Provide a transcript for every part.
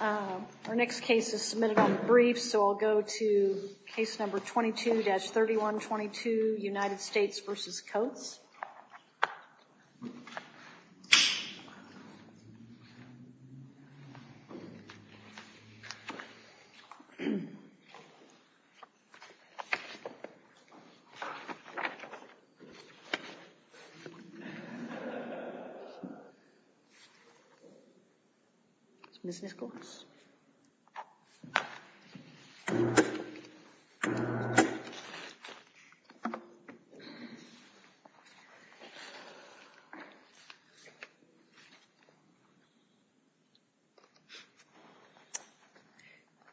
Our next case is submitted on the brief, so I'll go to case number 22-3122, United States v. Coates. Ms. Nichols.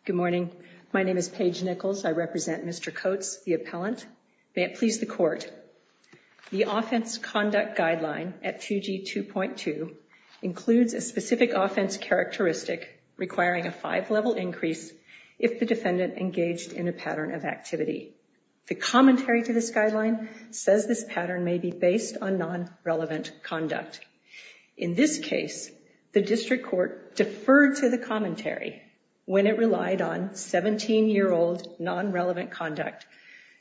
Good morning. My name is Paige Nichols. I represent Mr. Coates, the appellant. May it please the Court, the Offense Conduct Guideline at 2G 2.2 includes a specific offense characteristic requiring a five-level increase if the defendant engaged in a pattern of activity. The commentary to this guideline says this pattern may be based on non-relevant conduct. In this case, the district court deferred to the commentary when it relied on 17-year-old non-relevant conduct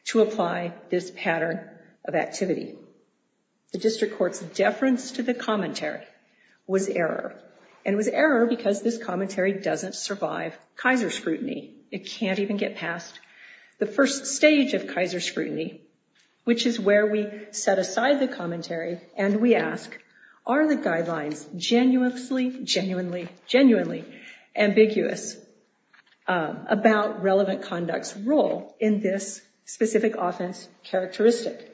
to apply this pattern of activity. The district court's deference to the commentary was error, and it was error because this commentary doesn't survive Kaiser scrutiny. It can't even get past the first stage of Kaiser scrutiny, which is where we set aside the commentary and we ask, are the guidelines genuinely ambiguous about relevant conduct's role in this specific offense characteristic?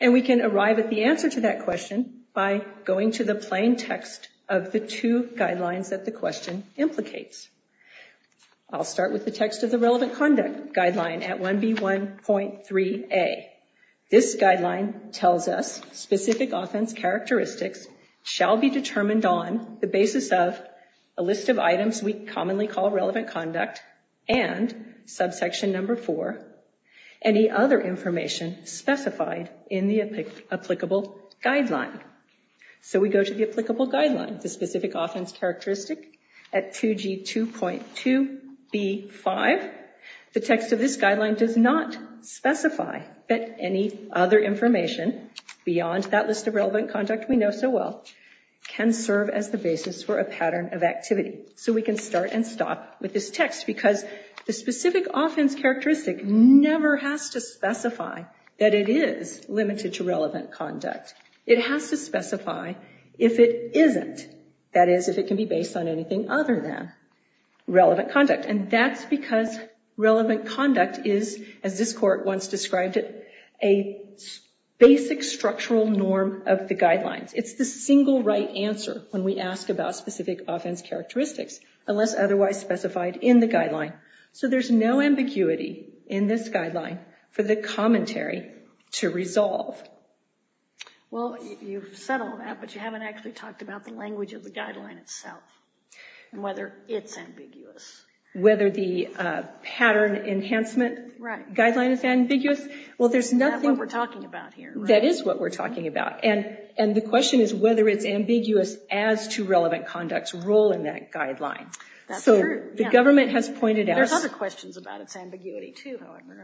And we can arrive at the answer to that question by going to the plain text of the two guidelines that the question implicates. I'll start with the text of the relevant conduct guideline at 1B 1.3a. This guideline tells us specific offense characteristics shall be determined on the basis of a list of items we commonly call relevant conduct and subsection number four, any other information specified in the applicable guideline. So we go to the applicable guideline, the specific offense characteristic at 2G 2.2b.5. The text of this guideline does not specify that any other information beyond that list of relevant conduct we know so well can serve as the basis for a pattern of activity. So we can start and stop with this text because the specific offense characteristic never has to specify that it is limited to relevant conduct. It has to specify if it isn't. That is, if it can be based on anything other than relevant conduct. And that's because relevant conduct is, as this court once described it, a basic structural norm of the guidelines. It's the single right answer when we ask about specific offense characteristics unless otherwise specified in the guideline. So there's no ambiguity in this guideline for the commentary to resolve. Well, you've said all that, but you haven't actually talked about the language of the guideline itself and whether it's ambiguous. Whether the pattern enhancement guideline is ambiguous? Well, there's nothing... That's what we're talking about here. That is what we're talking about. And the question is whether it's ambiguous as to relevant conduct's role in that guideline. That's true. So the government has pointed out... There's other questions about its ambiguity too, however.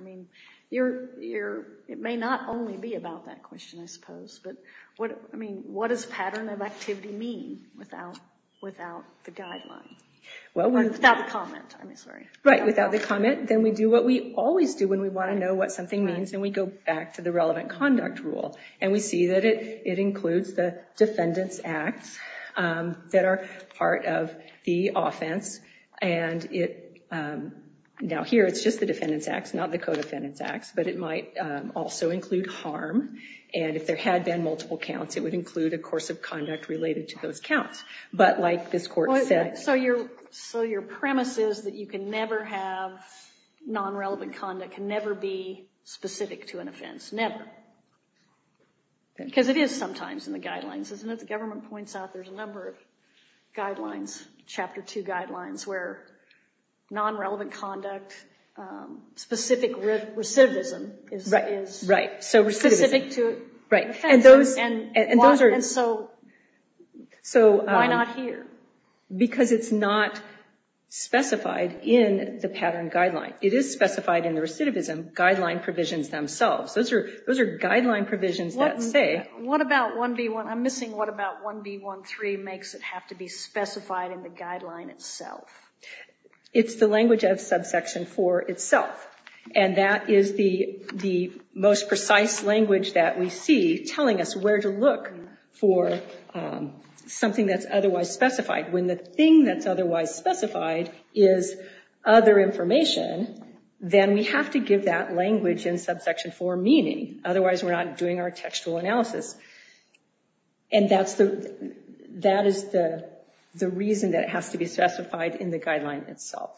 It may not only be about that question, I suppose. But what does pattern of activity mean without the guideline? Without the comment, I'm sorry. Right, without the comment. Then we do what we always do when we want to know what something means, and we go back to the relevant conduct rule. And we see that it includes the defendant's acts that are part of the offense. And now here, it's just the defendant's acts, not the co-defendant's acts. But it might also include harm. And if there had been multiple counts, it would include a course of conduct related to those counts. But like this court said... So your premise is that you can never have non-relevant conduct, can never be specific to an offense. Never. Because it is sometimes in the guidelines, isn't it? The government points out there's a number of guidelines, Chapter 2 guidelines, where non-relevant conduct, specific recidivism is specific to an offense. And so why not here? Because it's not specified in the pattern guideline. It is specified in the recidivism guideline provisions themselves. Those are guideline provisions that say... I'm missing what about 1B13 makes it have to be specified in the guideline itself. It's the language of Subsection 4 itself. And that is the most precise language that we see telling us where to look for something that's otherwise specified. When the thing that's otherwise specified is other information, then we have to give that language in Subsection 4 meaning. Otherwise, we're not doing our textual analysis. And that is the reason that it has to be specified in the guideline itself.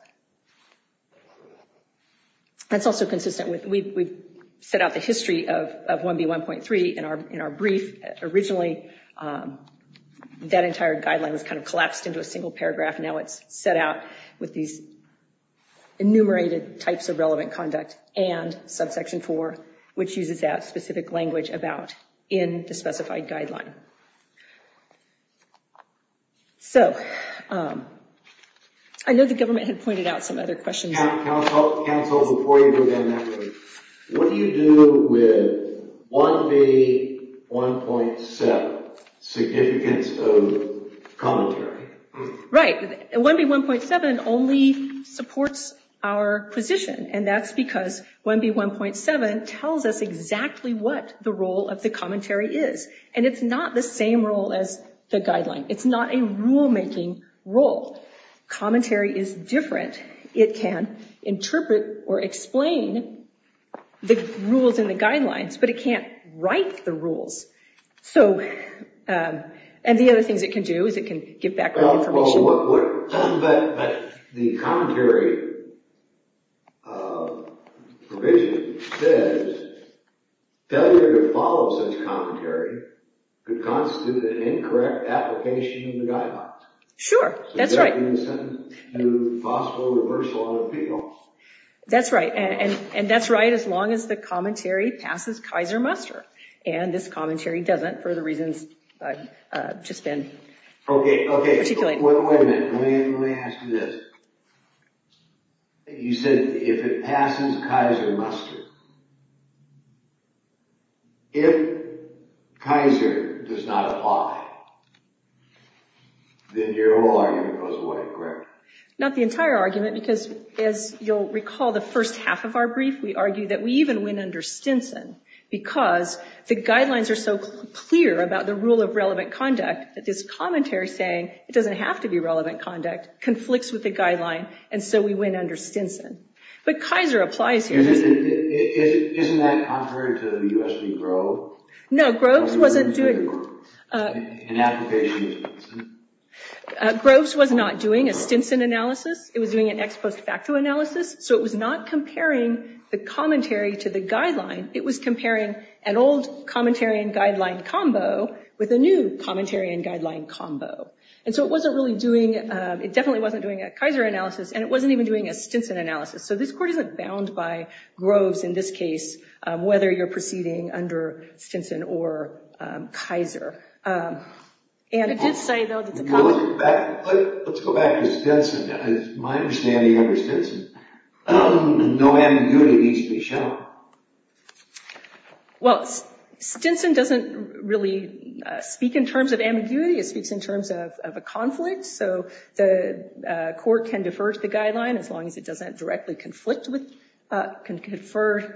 That's also consistent with... We've set out the history of 1B1.3 in our brief. Originally, that entire guideline was kind of collapsed into a single paragraph. Now, it's set out with these enumerated types of relevant conduct and Subsection 4, which uses that specific language about in the specified guideline. I know the government had pointed out some other questions. Counsel, before you go down that road, what do you do with 1B1.7, significance of commentary? Right. 1B1.7 only supports our position. And that's because 1B1.7 tells us exactly what the role of the commentary is. And it's not the same role as the guideline. It's not a rule-making role. Commentary is different. It can interpret or explain the rules in the guidelines, but it can't write the rules. And the other things it can do is it can give background information. But the commentary provision says, failure to follow such commentary could constitute an incorrect application of the guidelines. Sure. That's right. In the sentence, possible reversal on appeals. That's right. And that's right as long as the commentary passes Kaiser-Muster. And this commentary doesn't for the reasons I've just been articulating. Okay. Okay. Wait a minute. Let me ask you this. You said if it passes Kaiser-Muster, if Kaiser does not apply, then your whole argument goes away, correct? Not the entire argument, because as you'll recall, the first half of our brief, we argue that we even win under Stinson, because the guidelines are so clear about the rule of relevant conduct that this commentary saying it doesn't have to be relevant conduct conflicts with the guideline, and so we win under Stinson. But Kaiser applies here. Isn't that contrary to the U.S. v. Groves? No, Groves wasn't doing... An application of Stinson? Groves was not doing a Stinson analysis. It was doing an ex post facto analysis. So it was not comparing the commentary to the guideline. It was comparing an old commentary and guideline combo with a new commentary and guideline combo. And so it wasn't really doing... It definitely wasn't doing a Kaiser analysis, and it wasn't even doing a Stinson analysis. So this Court isn't bound by Groves in this case, whether you're proceeding under Stinson or Kaiser. It did say, though, that the... Let's go back to Stinson. My understanding under Stinson, no ambiguity needs to be shown. Well, Stinson doesn't really speak in terms of ambiguity. It speaks in terms of a conflict. So the Court can defer to the guideline as long as it doesn't directly conflict with... Can defer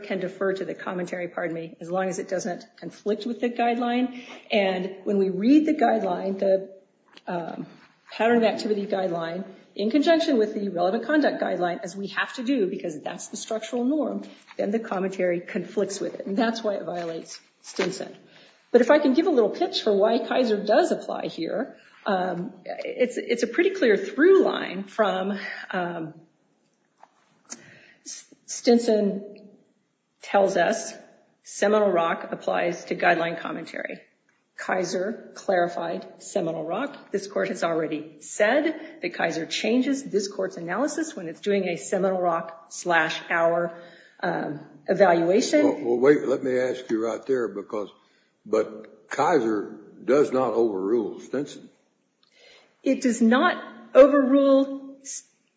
to the commentary, pardon me, as long as it doesn't conflict with the guideline. And when we read the guideline, the pattern of activity guideline, in conjunction with the relevant conduct guideline, as we have to do because that's the structural norm, then the commentary conflicts with it. And that's why it violates Stinson. But if I can give a little pitch for why Kaiser does apply here, it's a pretty clear through line from... Stinson tells us Seminole Rock applies to guideline commentary. Kaiser clarified Seminole Rock. This Court has already said that Kaiser changes this Court's analysis when it's doing a Seminole Rock slash hour evaluation. Well, wait, let me ask you right there because... But Kaiser does not overrule Stinson. It does not overrule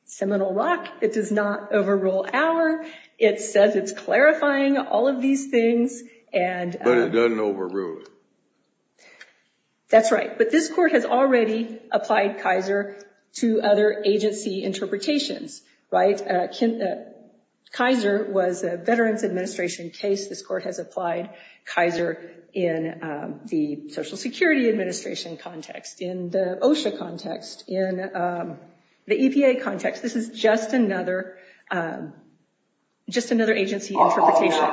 Seminole Rock. It does not overrule hour. It says it's clarifying all of these things and... But it doesn't overrule it. That's right. But this Court has already applied Kaiser to other agency interpretations. Kaiser was a Veterans Administration case. This Court has applied Kaiser in the Social Security Administration context, in the OSHA context, in the EPA context. This is just another agency interpretation.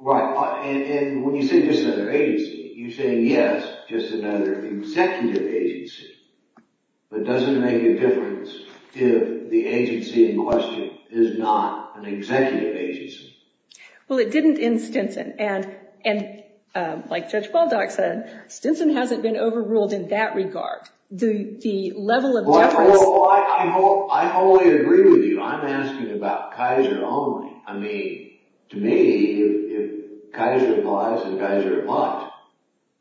Right. And when you say just another agency, you're saying, yes, just another executive agency. But it doesn't make a difference if the agency in question is not an executive agency. Well, it didn't in Stinson. And like Judge Baldock said, Stinson hasn't been overruled in that regard. The level of... Well, I wholly agree with you. I'm asking about Kaiser only. I mean, to me, if Kaiser applies, then Kaiser applies.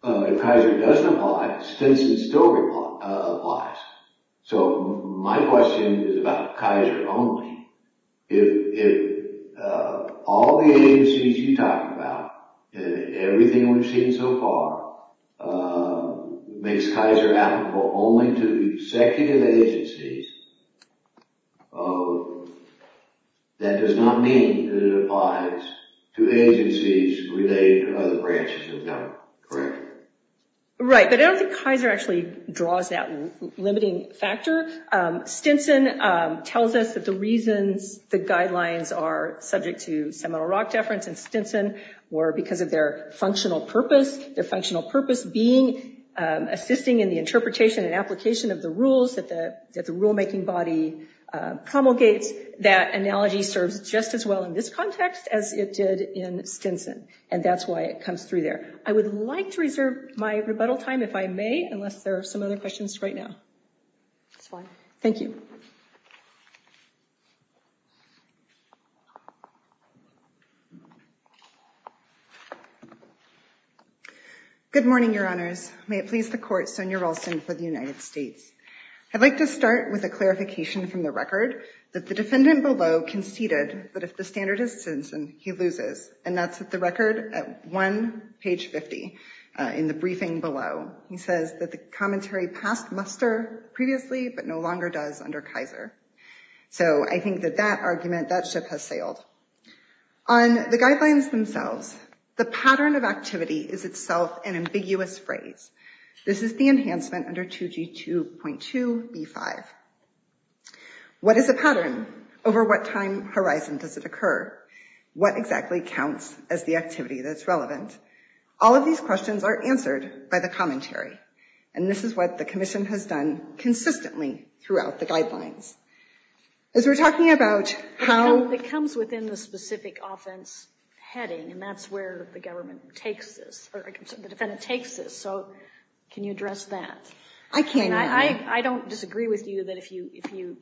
If Kaiser doesn't apply, Stinson still applies. So my question is about Kaiser only. If all the agencies you talk about, everything we've seen so far, makes Kaiser applicable only to executive agencies, that does not mean that it applies to agencies related to other branches of government, correct? Right. But I don't think Kaiser actually draws that limiting factor. Stinson tells us that the reasons the guidelines are subject to seminal rock deference in Stinson were because of their functional purpose, their functional purpose being assisting in the interpretation and application of the rules that the rulemaking body promulgates. That analogy serves just as well in this context as it did in Stinson. And that's why it comes through there. I would like to reserve my rebuttal time if I may, unless there are some other questions right now. That's fine. Thank you. Good morning, Your Honors. May it please the Court, Sonia Ralston for the United States. I'd like to start with a clarification from the record that the defendant below conceded that if the standard is Stinson, he loses. And that's at the record at 1 page 50 in the briefing below. He says that the commentary passed muster previously but no longer does under Kaiser. So I think that that argument, that ship has sailed. On the guidelines themselves, the pattern of activity is itself an ambiguous phrase. This is the enhancement under 2G2.2B5. What is a pattern? Over what time horizon does it occur? What exactly counts as the activity that's relevant? All of these questions are answered by the commentary. And this is what the commission has done consistently throughout the guidelines. As we're talking about how- It comes within the specific offense heading, and that's where the government takes this, or the defendant takes this. So can you address that? I can. And I don't disagree with you that if you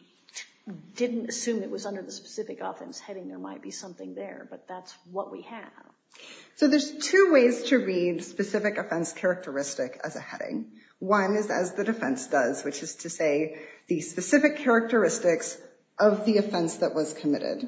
didn't assume it was under the specific offense heading, there might be something there. But that's what we have. So there's two ways to read specific offense characteristic as a heading. One is as the defense does, which is to say the specific characteristics of the offense that was committed.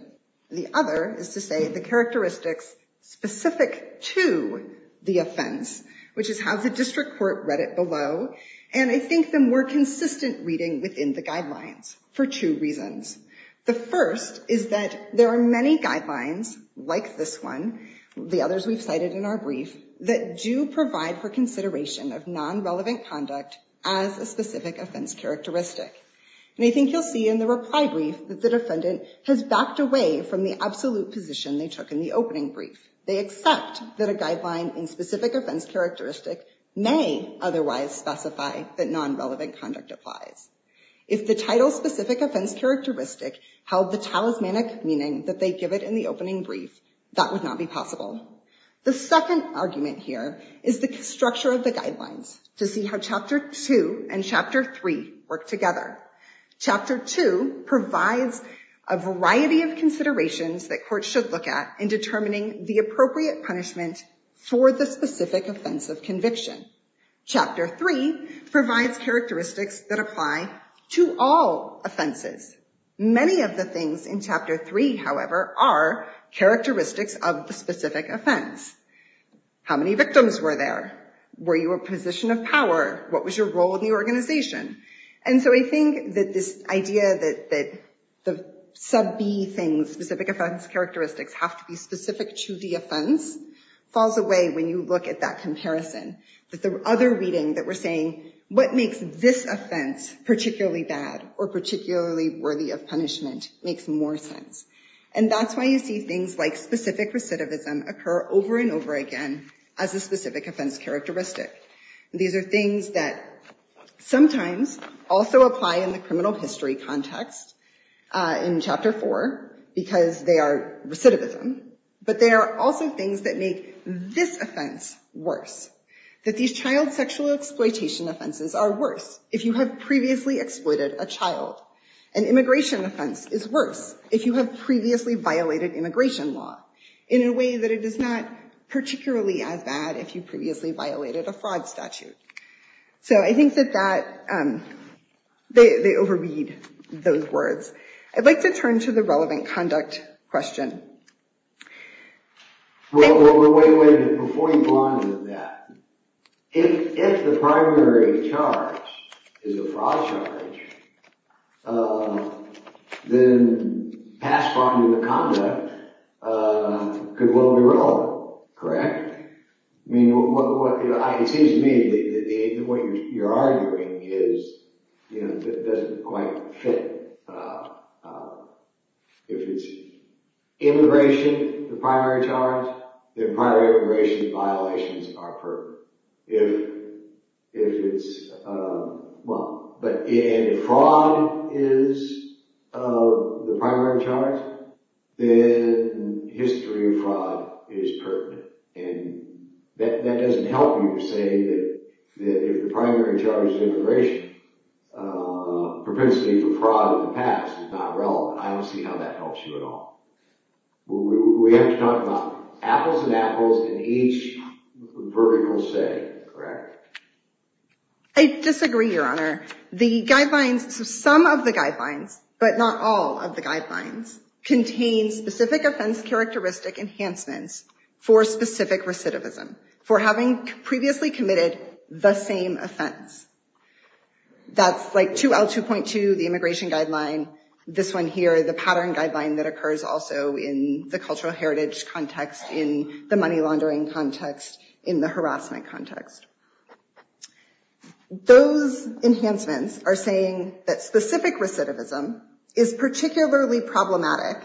The other is to say the characteristics specific to the offense, which is how the district court read it below. And I think the more consistent reading within the guidelines for two reasons. The first is that there are many guidelines like this one, the others we've cited in our brief, that do provide for consideration of non-relevant conduct as a specific offense characteristic. And I think you'll see in the reply brief that the defendant has backed away from the absolute position they took in the opening brief. They accept that a guideline in specific offense characteristic may otherwise specify that non-relevant conduct applies. If the title specific offense characteristic held the talismanic meaning that they give it in the opening brief, that would not be possible. The second argument here is the structure of the guidelines to see how Chapter 2 and Chapter 3 work together. Chapter 2 provides a variety of considerations that courts should look at in determining the appropriate punishment for the specific offense of conviction. Chapter 3 provides characteristics that apply to all offenses. Many of the things in Chapter 3, however, are characteristics of the specific offense. How many victims were there? Were you a position of power? What was your role in the organization? And so I think that this idea that the sub B things, specific offense characteristics, have to be specific to the offense, falls away when you look at that comparison. That the other reading that we're saying, what makes this offense particularly bad or particularly worthy of punishment makes more sense. And that's why you see things like specific recidivism occur over and over again as a specific offense characteristic. These are things that sometimes also apply in the criminal history context in Chapter 4 because they are recidivism. But they are also things that make this offense worse. That these child sexual exploitation offenses are worse if you have previously exploited a child. An immigration offense is worse if you have previously violated immigration law in a way that it is not particularly as bad if you previously violated a fraud statute. So I think that they overread those words. I'd like to turn to the relevant conduct question. Well, wait a minute. Before you go on with that. If the primary charge is a fraud charge, then pass bond to the conduct could well be wrong, correct? It seems to me that what you're arguing doesn't quite fit. If it's immigration, the primary charge, then primary immigration violations are pertinent. But if fraud is the primary charge, then history of fraud is pertinent. And that doesn't help you to say that if the primary charge is immigration, propensity for fraud in the past is not relevant. I don't see how that helps you at all. We have to talk about apples and apples in each vertical setting, correct? I disagree, Your Honor. The guidelines, some of the guidelines, but not all of the guidelines, contain specific offense characteristic enhancements for specific recidivism. For having previously committed the same offense. That's like 2L2.2, the immigration guideline. This one here, the pattern guideline that occurs also in the cultural heritage context, in the money laundering context, in the harassment context. Those enhancements are saying that specific recidivism is particularly problematic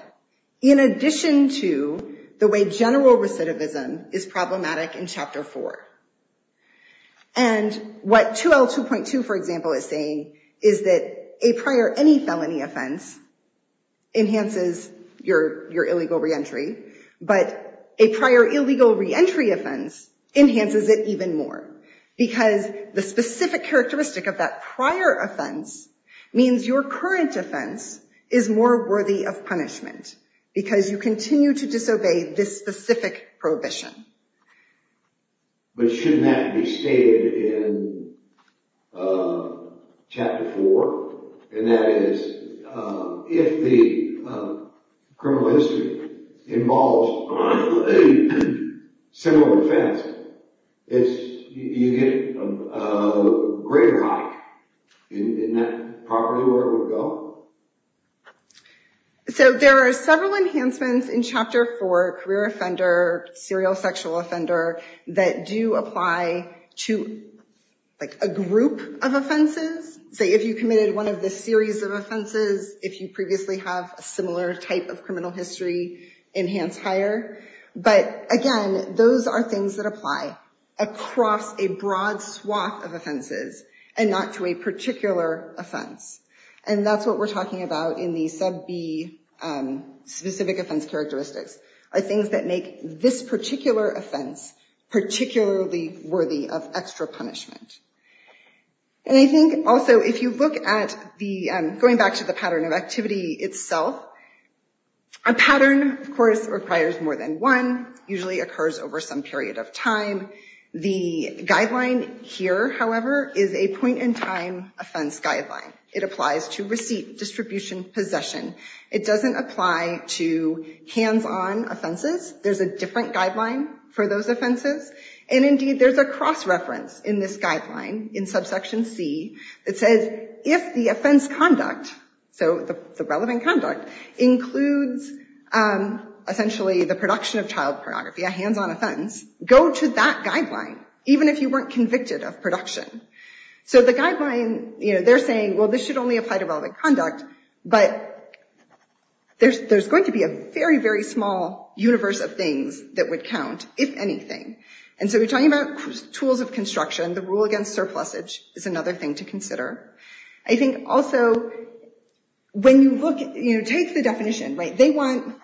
in addition to the way general recidivism is problematic in Chapter 4. And what 2L2.2, for example, is saying is that a prior any felony offense enhances your illegal reentry, but a prior illegal reentry offense enhances it even more. Because the specific characteristic of that prior offense means your current offense is more worthy of punishment because you continue to disobey this specific prohibition. But shouldn't that be stated in Chapter 4? And that is, if the criminal history involves a similar offense, you get a greater height in that property where it would go? So there are several enhancements in Chapter 4, career offender, serial sexual offender, that do apply to a group of offenses. Say if you committed one of the series of offenses, if you previously have a similar type of criminal history, enhance higher. But again, those are things that apply across a broad swath of offenses and not to a particular offense. And that's what we're talking about in the sub B specific offense characteristics, are things that make this particular offense particularly worthy of extra punishment. And I think also if you look at the, going back to the pattern of activity itself, a pattern, of course, requires more than one, usually occurs over some period of time. The guideline here, however, is a point in time offense guideline. It applies to receipt, distribution, possession. It doesn't apply to hands-on offenses. There's a different guideline for those offenses. And indeed, there's a cross-reference in this guideline, in subsection C, that says if the offense conduct, so the relevant conduct, includes essentially the production of child pornography, a hands-on offense, go to that guideline, even if you weren't convicted of production. So the guideline, they're saying, well, this should only apply to relevant conduct, but there's going to be a very, very small universe of things that would count, if anything. And so we're talking about tools of construction. The rule against surplusage is another thing to consider. I think also when you look, take the definition. They want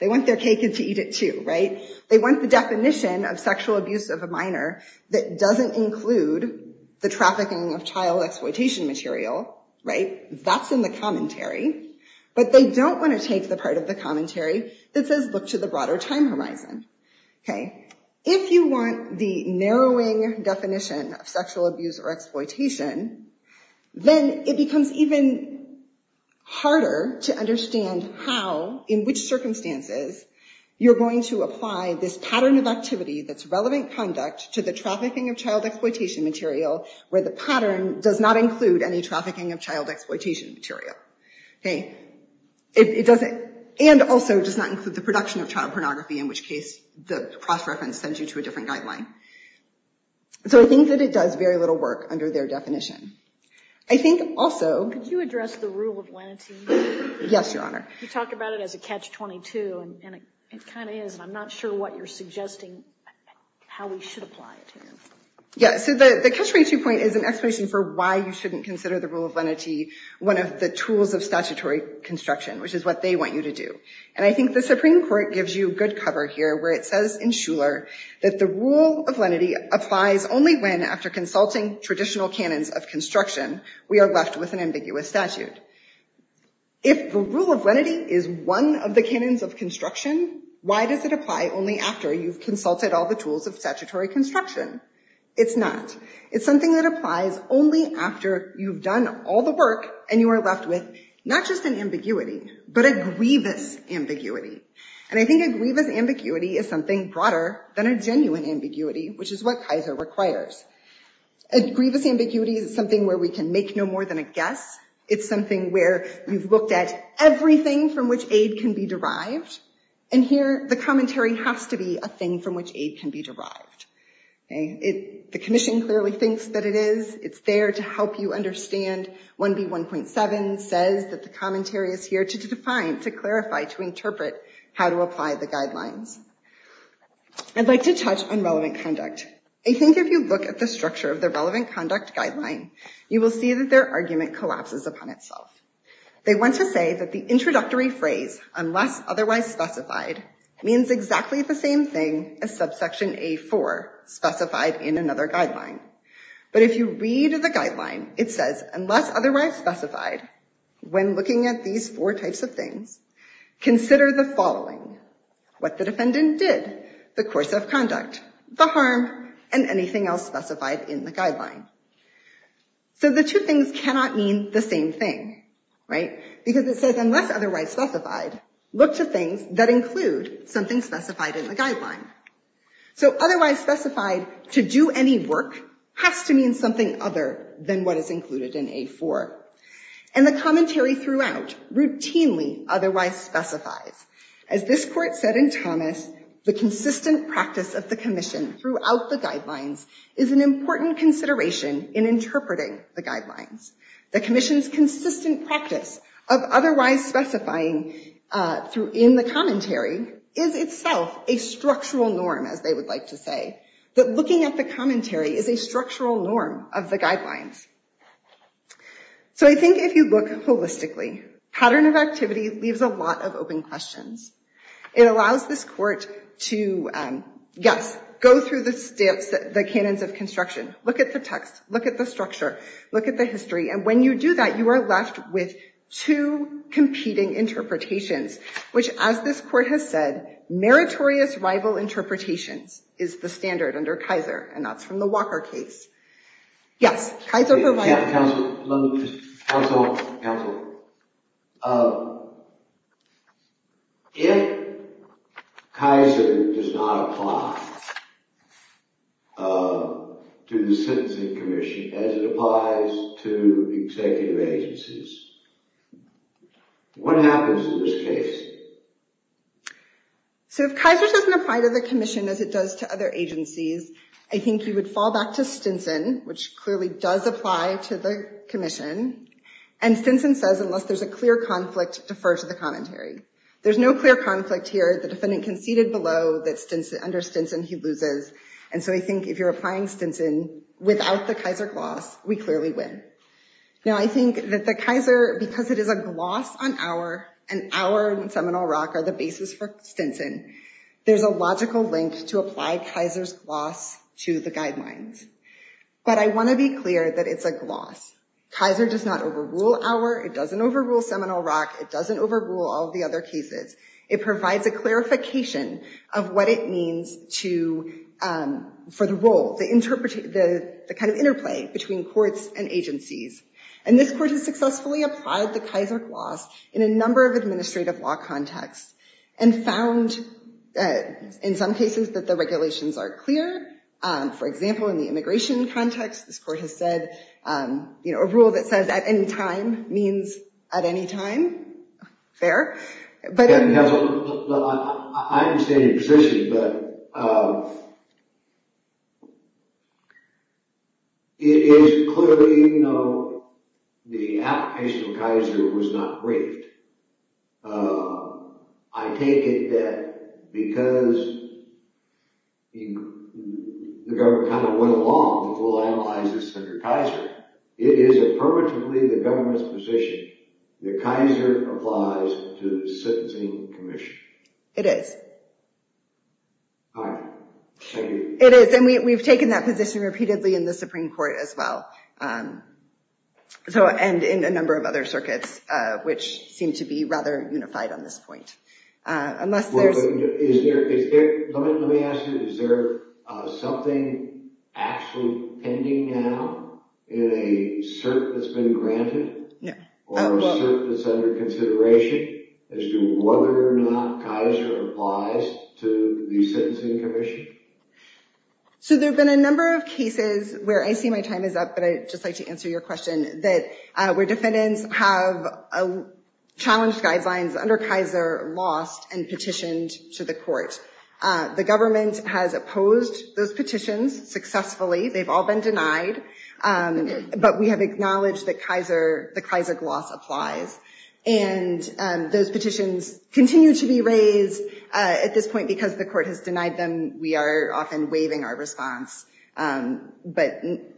their cake to eat it too, right? They want the definition of sexual abuse of a minor that doesn't include the trafficking of child exploitation material, right? That's in the commentary. But they don't want to take the part of the commentary that says, look to the broader time horizon. If you want the narrowing definition of sexual abuse or exploitation, then it becomes even harder to understand how, in which circumstances, you're going to apply this pattern of activity that's relevant conduct to the trafficking of child exploitation material, where the pattern does not include any trafficking of child exploitation material. Okay? It doesn't, and also does not include the production of child pornography, in which case the cross-reference sends you to a different guideline. So I think that it does very little work under their definition. I think also... Could you address the rule of lenity? Yes, Your Honor. You talk about it as a catch-22, and it kind of is, and I'm not sure what you're suggesting how we should apply it here. Yeah. So the catch-22 point is an explanation for why you shouldn't consider the rule of lenity one of the tools of statutory construction, which is what they want you to do. And I think the Supreme Court gives you good cover here, where it says in Shuler that the rule of lenity applies only when, after consulting traditional canons of construction, we are left with an ambiguous statute. If the rule of lenity is one of the canons of construction, why does it apply only after you've consulted all the tools of statutory construction? It's not. It's something that applies only after you've done all the work and you are left with not just an ambiguity, but a grievous ambiguity. And I think a grievous ambiguity is something broader than a genuine ambiguity, which is what Kaiser requires. A grievous ambiguity is something where we can make no more than a guess. It's something where you've looked at everything from which aid can be derived, and here the commentary has to be a thing from which aid can be derived. The commission clearly thinks that it is. It's there to help you understand. 1B1.7 says that the commentary is here to define, to clarify, to interpret how to apply the guidelines. I'd like to touch on relevant conduct. I think if you look at the structure of the relevant conduct guideline, you will see that their argument collapses upon itself. They want to say that the introductory phrase, unless otherwise specified, means exactly the same thing as subsection A4 specified in another guideline. But if you read the guideline, it says, unless otherwise specified, when looking at these four types of things, consider the following, what the defendant did, the course of conduct, the harm, and anything else specified in the guideline. So the two things cannot mean the same thing, right? Because it says, unless otherwise specified, look to things that include something specified in the guideline. So otherwise specified, to do any work, has to mean something other than what is included in A4. And the commentary throughout routinely otherwise specifies. As this court said in Thomas, the consistent practice of the commission throughout the guidelines is an important consideration in interpreting the guidelines. The commission's consistent practice of otherwise specifying in the commentary is itself a structural norm, as they would like to say, that looking at the commentary is a structural norm of the guidelines. So I think if you look holistically, pattern of activity leaves a lot of open questions. It allows this court to, yes, go through the canons of construction. Look at the text. Look at the structure. Look at the history. And when you do that, you are left with two competing interpretations, which as this court has said, meritorious rival interpretations is the standard under Kaiser, and that's from the Walker case. Yes? Counsel? Counsel? Counsel? If Kaiser does not apply to the Stinson commission as it applies to executive agencies, what happens in this case? So if Kaiser doesn't apply to the commission as it does to other agencies, I think you would fall back to Stinson, which clearly does apply to the commission. And Stinson says unless there's a clear conflict, defer to the commentary. There's no clear conflict here. The defendant conceded below that under Stinson he loses. And so I think if you're applying Stinson without the Kaiser gloss, we clearly win. Now I think that the Kaiser, because it is a gloss on our, and our and Seminole Rock are the basis for Stinson, there's a logical link to apply Kaiser's gloss to the guidelines. But I want to be clear that it's a gloss. Kaiser does not overrule our, it doesn't overrule Seminole Rock, it doesn't overrule all the other cases. It provides a clarification of what it means for the role, the kind of interplay between courts and agencies. And this court has successfully applied the Kaiser gloss in a number of administrative law contexts and found in some cases that the regulations are clear. For example, in the immigration context, this court has said a rule that says at any time means at any time. Fair. I understand your position, but it is clearly the application of Kaiser was not briefed. I take it that because the government kind of went along, we'll analyze this under Kaiser. It is affirmatively the government's position that Kaiser applies to sentencing commission. It is. All right. Thank you. It is. And we've taken that position repeatedly in the Supreme Court as well. And in a number of other circuits, which seem to be rather unified on this point. Let me ask you, is there something actually pending now in a cert that's been granted? Or a cert that's under consideration as to whether or not Kaiser applies to the sentencing commission? So there have been a number of cases where I see my time is up, but I'd just like to answer your question, where defendants have challenged guidelines under Kaiser, lost, and petitioned to the court. The government has opposed those petitions successfully. They've all been denied. But we have acknowledged that the Kaiser gloss applies. And those petitions continue to be raised at this point because the court has denied them. We are often waiving our response. My question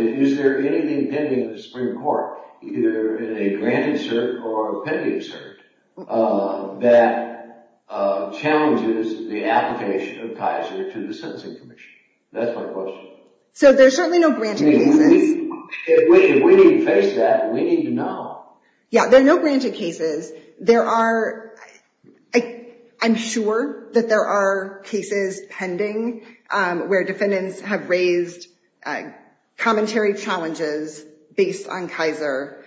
is, is there anything pending in the Supreme Court, either in a granted cert or a pending cert, that challenges the application of Kaiser to the sentencing commission? That's my question. So there's certainly no granted cases. If we didn't face that, we need to know. Yeah, there are no granted cases. I'm sure that there are cases pending where defendants have raised commentary challenges based on Kaiser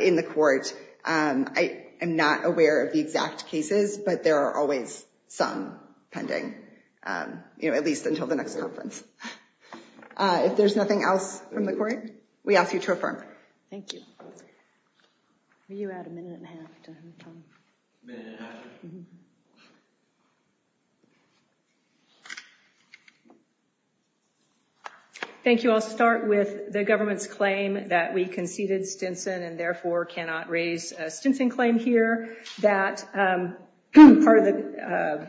in the court. I am not aware of the exact cases, but there are always some pending, at least until the next conference. If there's nothing else from the court, we ask you to affirm. Thank you. Will you add a minute and a half to him, Tom? A minute and a half. Thank you. I'll start with the government's claim that we conceded Stinson and therefore cannot raise a Stinson claim here. That part of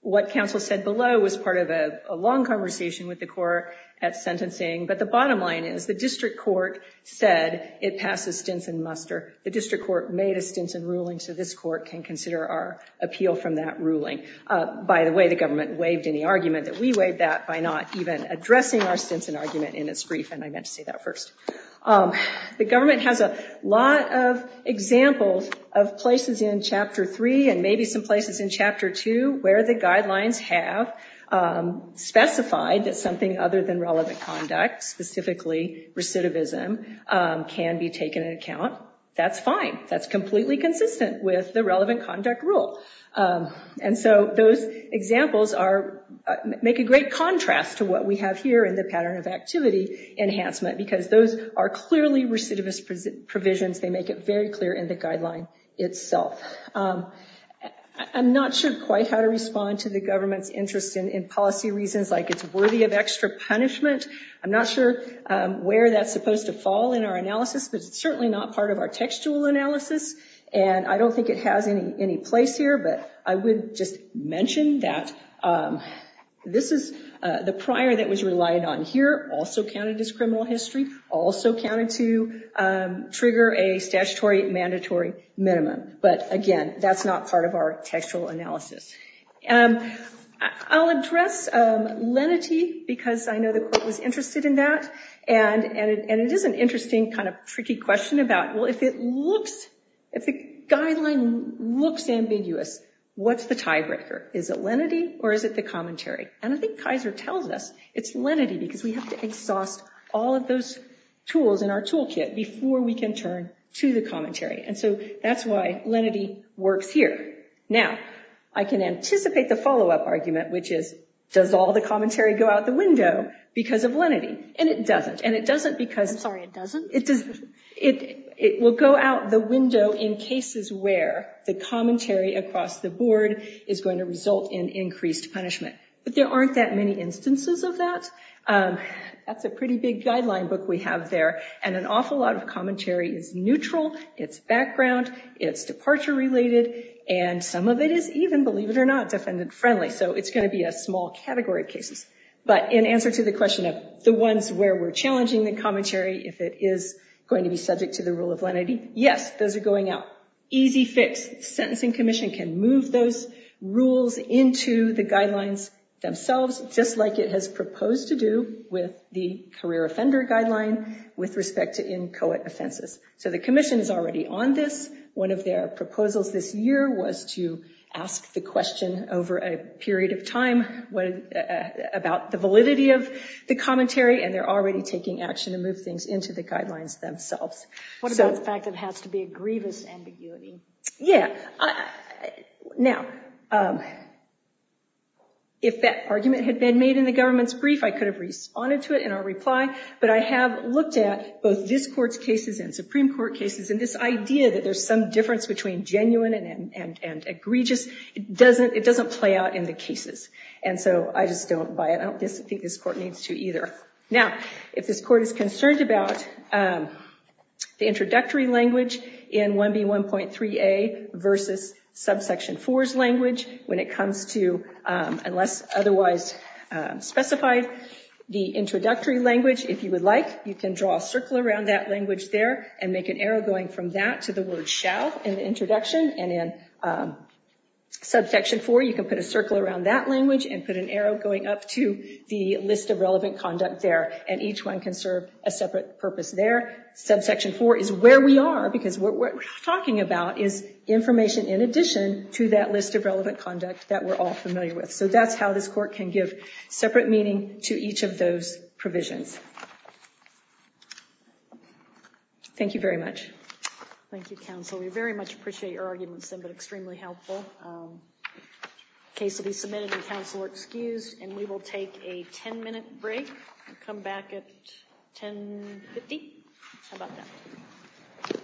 what counsel said below was part of a long conversation with the court at sentencing. But the bottom line is the district court said it passes Stinson-Muster. The district court made a Stinson ruling, so this court can consider our appeal from that ruling. By the way, the government waived any argument that we waived that by not even addressing our Stinson argument in its brief, and I meant to say that first. The government has a lot of examples of places in Chapter 3 and maybe some places in Chapter 2 where the guidelines have specified that something other than relevant conduct, specifically recidivism, can be taken into account. That's fine. That's completely consistent with the relevant conduct rule. And so those examples make a great contrast to what we have here in the pattern of activity enhancement because those are clearly recidivist provisions. They make it very clear in the guideline itself. I'm not sure quite how to respond to the government's interest in policy reasons like it's worthy of extra punishment. I'm not sure where that's supposed to fall in our analysis, but it's certainly not part of our textual analysis, and I don't think it has any place here. But I would just mention that this is the prior that was relied on here, also counted as criminal history, also counted to trigger a statutory mandatory minimum. But, again, that's not part of our textual analysis. I'll address lenity because I know the quote was interested in that, and it is an interesting kind of tricky question about, well, if the guideline looks ambiguous, what's the tiebreaker? Is it lenity or is it the commentary? And I think Kaiser tells us it's lenity because we have to exhaust all of those tools in our toolkit before we can turn to the commentary. And so that's why lenity works here. Now, I can anticipate the follow-up argument, which is does all the commentary go out the window because of lenity? And it doesn't, and it doesn't because it will go out the window in cases where the commentary across the board is going to result in increased punishment. But there aren't that many instances of that. That's a pretty big guideline book we have there, and an awful lot of commentary is neutral, it's background, it's departure-related, and some of it is even, believe it or not, defendant-friendly, so it's going to be a small category of cases. But in answer to the question of the ones where we're challenging the commentary, if it is going to be subject to the rule of lenity, yes, those are going out. Easy fix. Sentencing Commission can move those rules into the guidelines themselves, just like it has proposed to do with the career offender guideline with respect to inchoate offenses. So the Commission is already on this. One of their proposals this year was to ask the question over a period of time about the validity of the commentary, and they're already taking action to move things into the guidelines themselves. What about the fact it has to be a grievous ambiguity? Yeah. Now, if that argument had been made in the government's brief, I could have responded to it in our reply, but I have looked at both this Court's cases and Supreme Court cases, and this idea that there's some difference between genuine and egregious, it doesn't play out in the cases, and so I just don't buy it. I don't think this Court needs to either. Now, if this Court is concerned about the introductory language in 1B1.3a versus subsection 4's language when it comes to unless otherwise specified, the introductory language, if you would like, you can draw a circle around that language there and make an arrow going from that to the word shall in the introduction, and in subsection 4 you can put a circle around that language and put an arrow going up to the list of relevant conduct there, and each one can serve a separate purpose there. Subsection 4 is where we are because what we're talking about is information in addition to that list of relevant conduct that we're all familiar with. So that's how this Court can give separate meaning to each of those provisions. Thank you very much. Thank you, counsel. We very much appreciate your arguments, but extremely helpful. The case will be submitted and counsel are excused, and we will take a 10-minute break and come back at 10.50. How about that?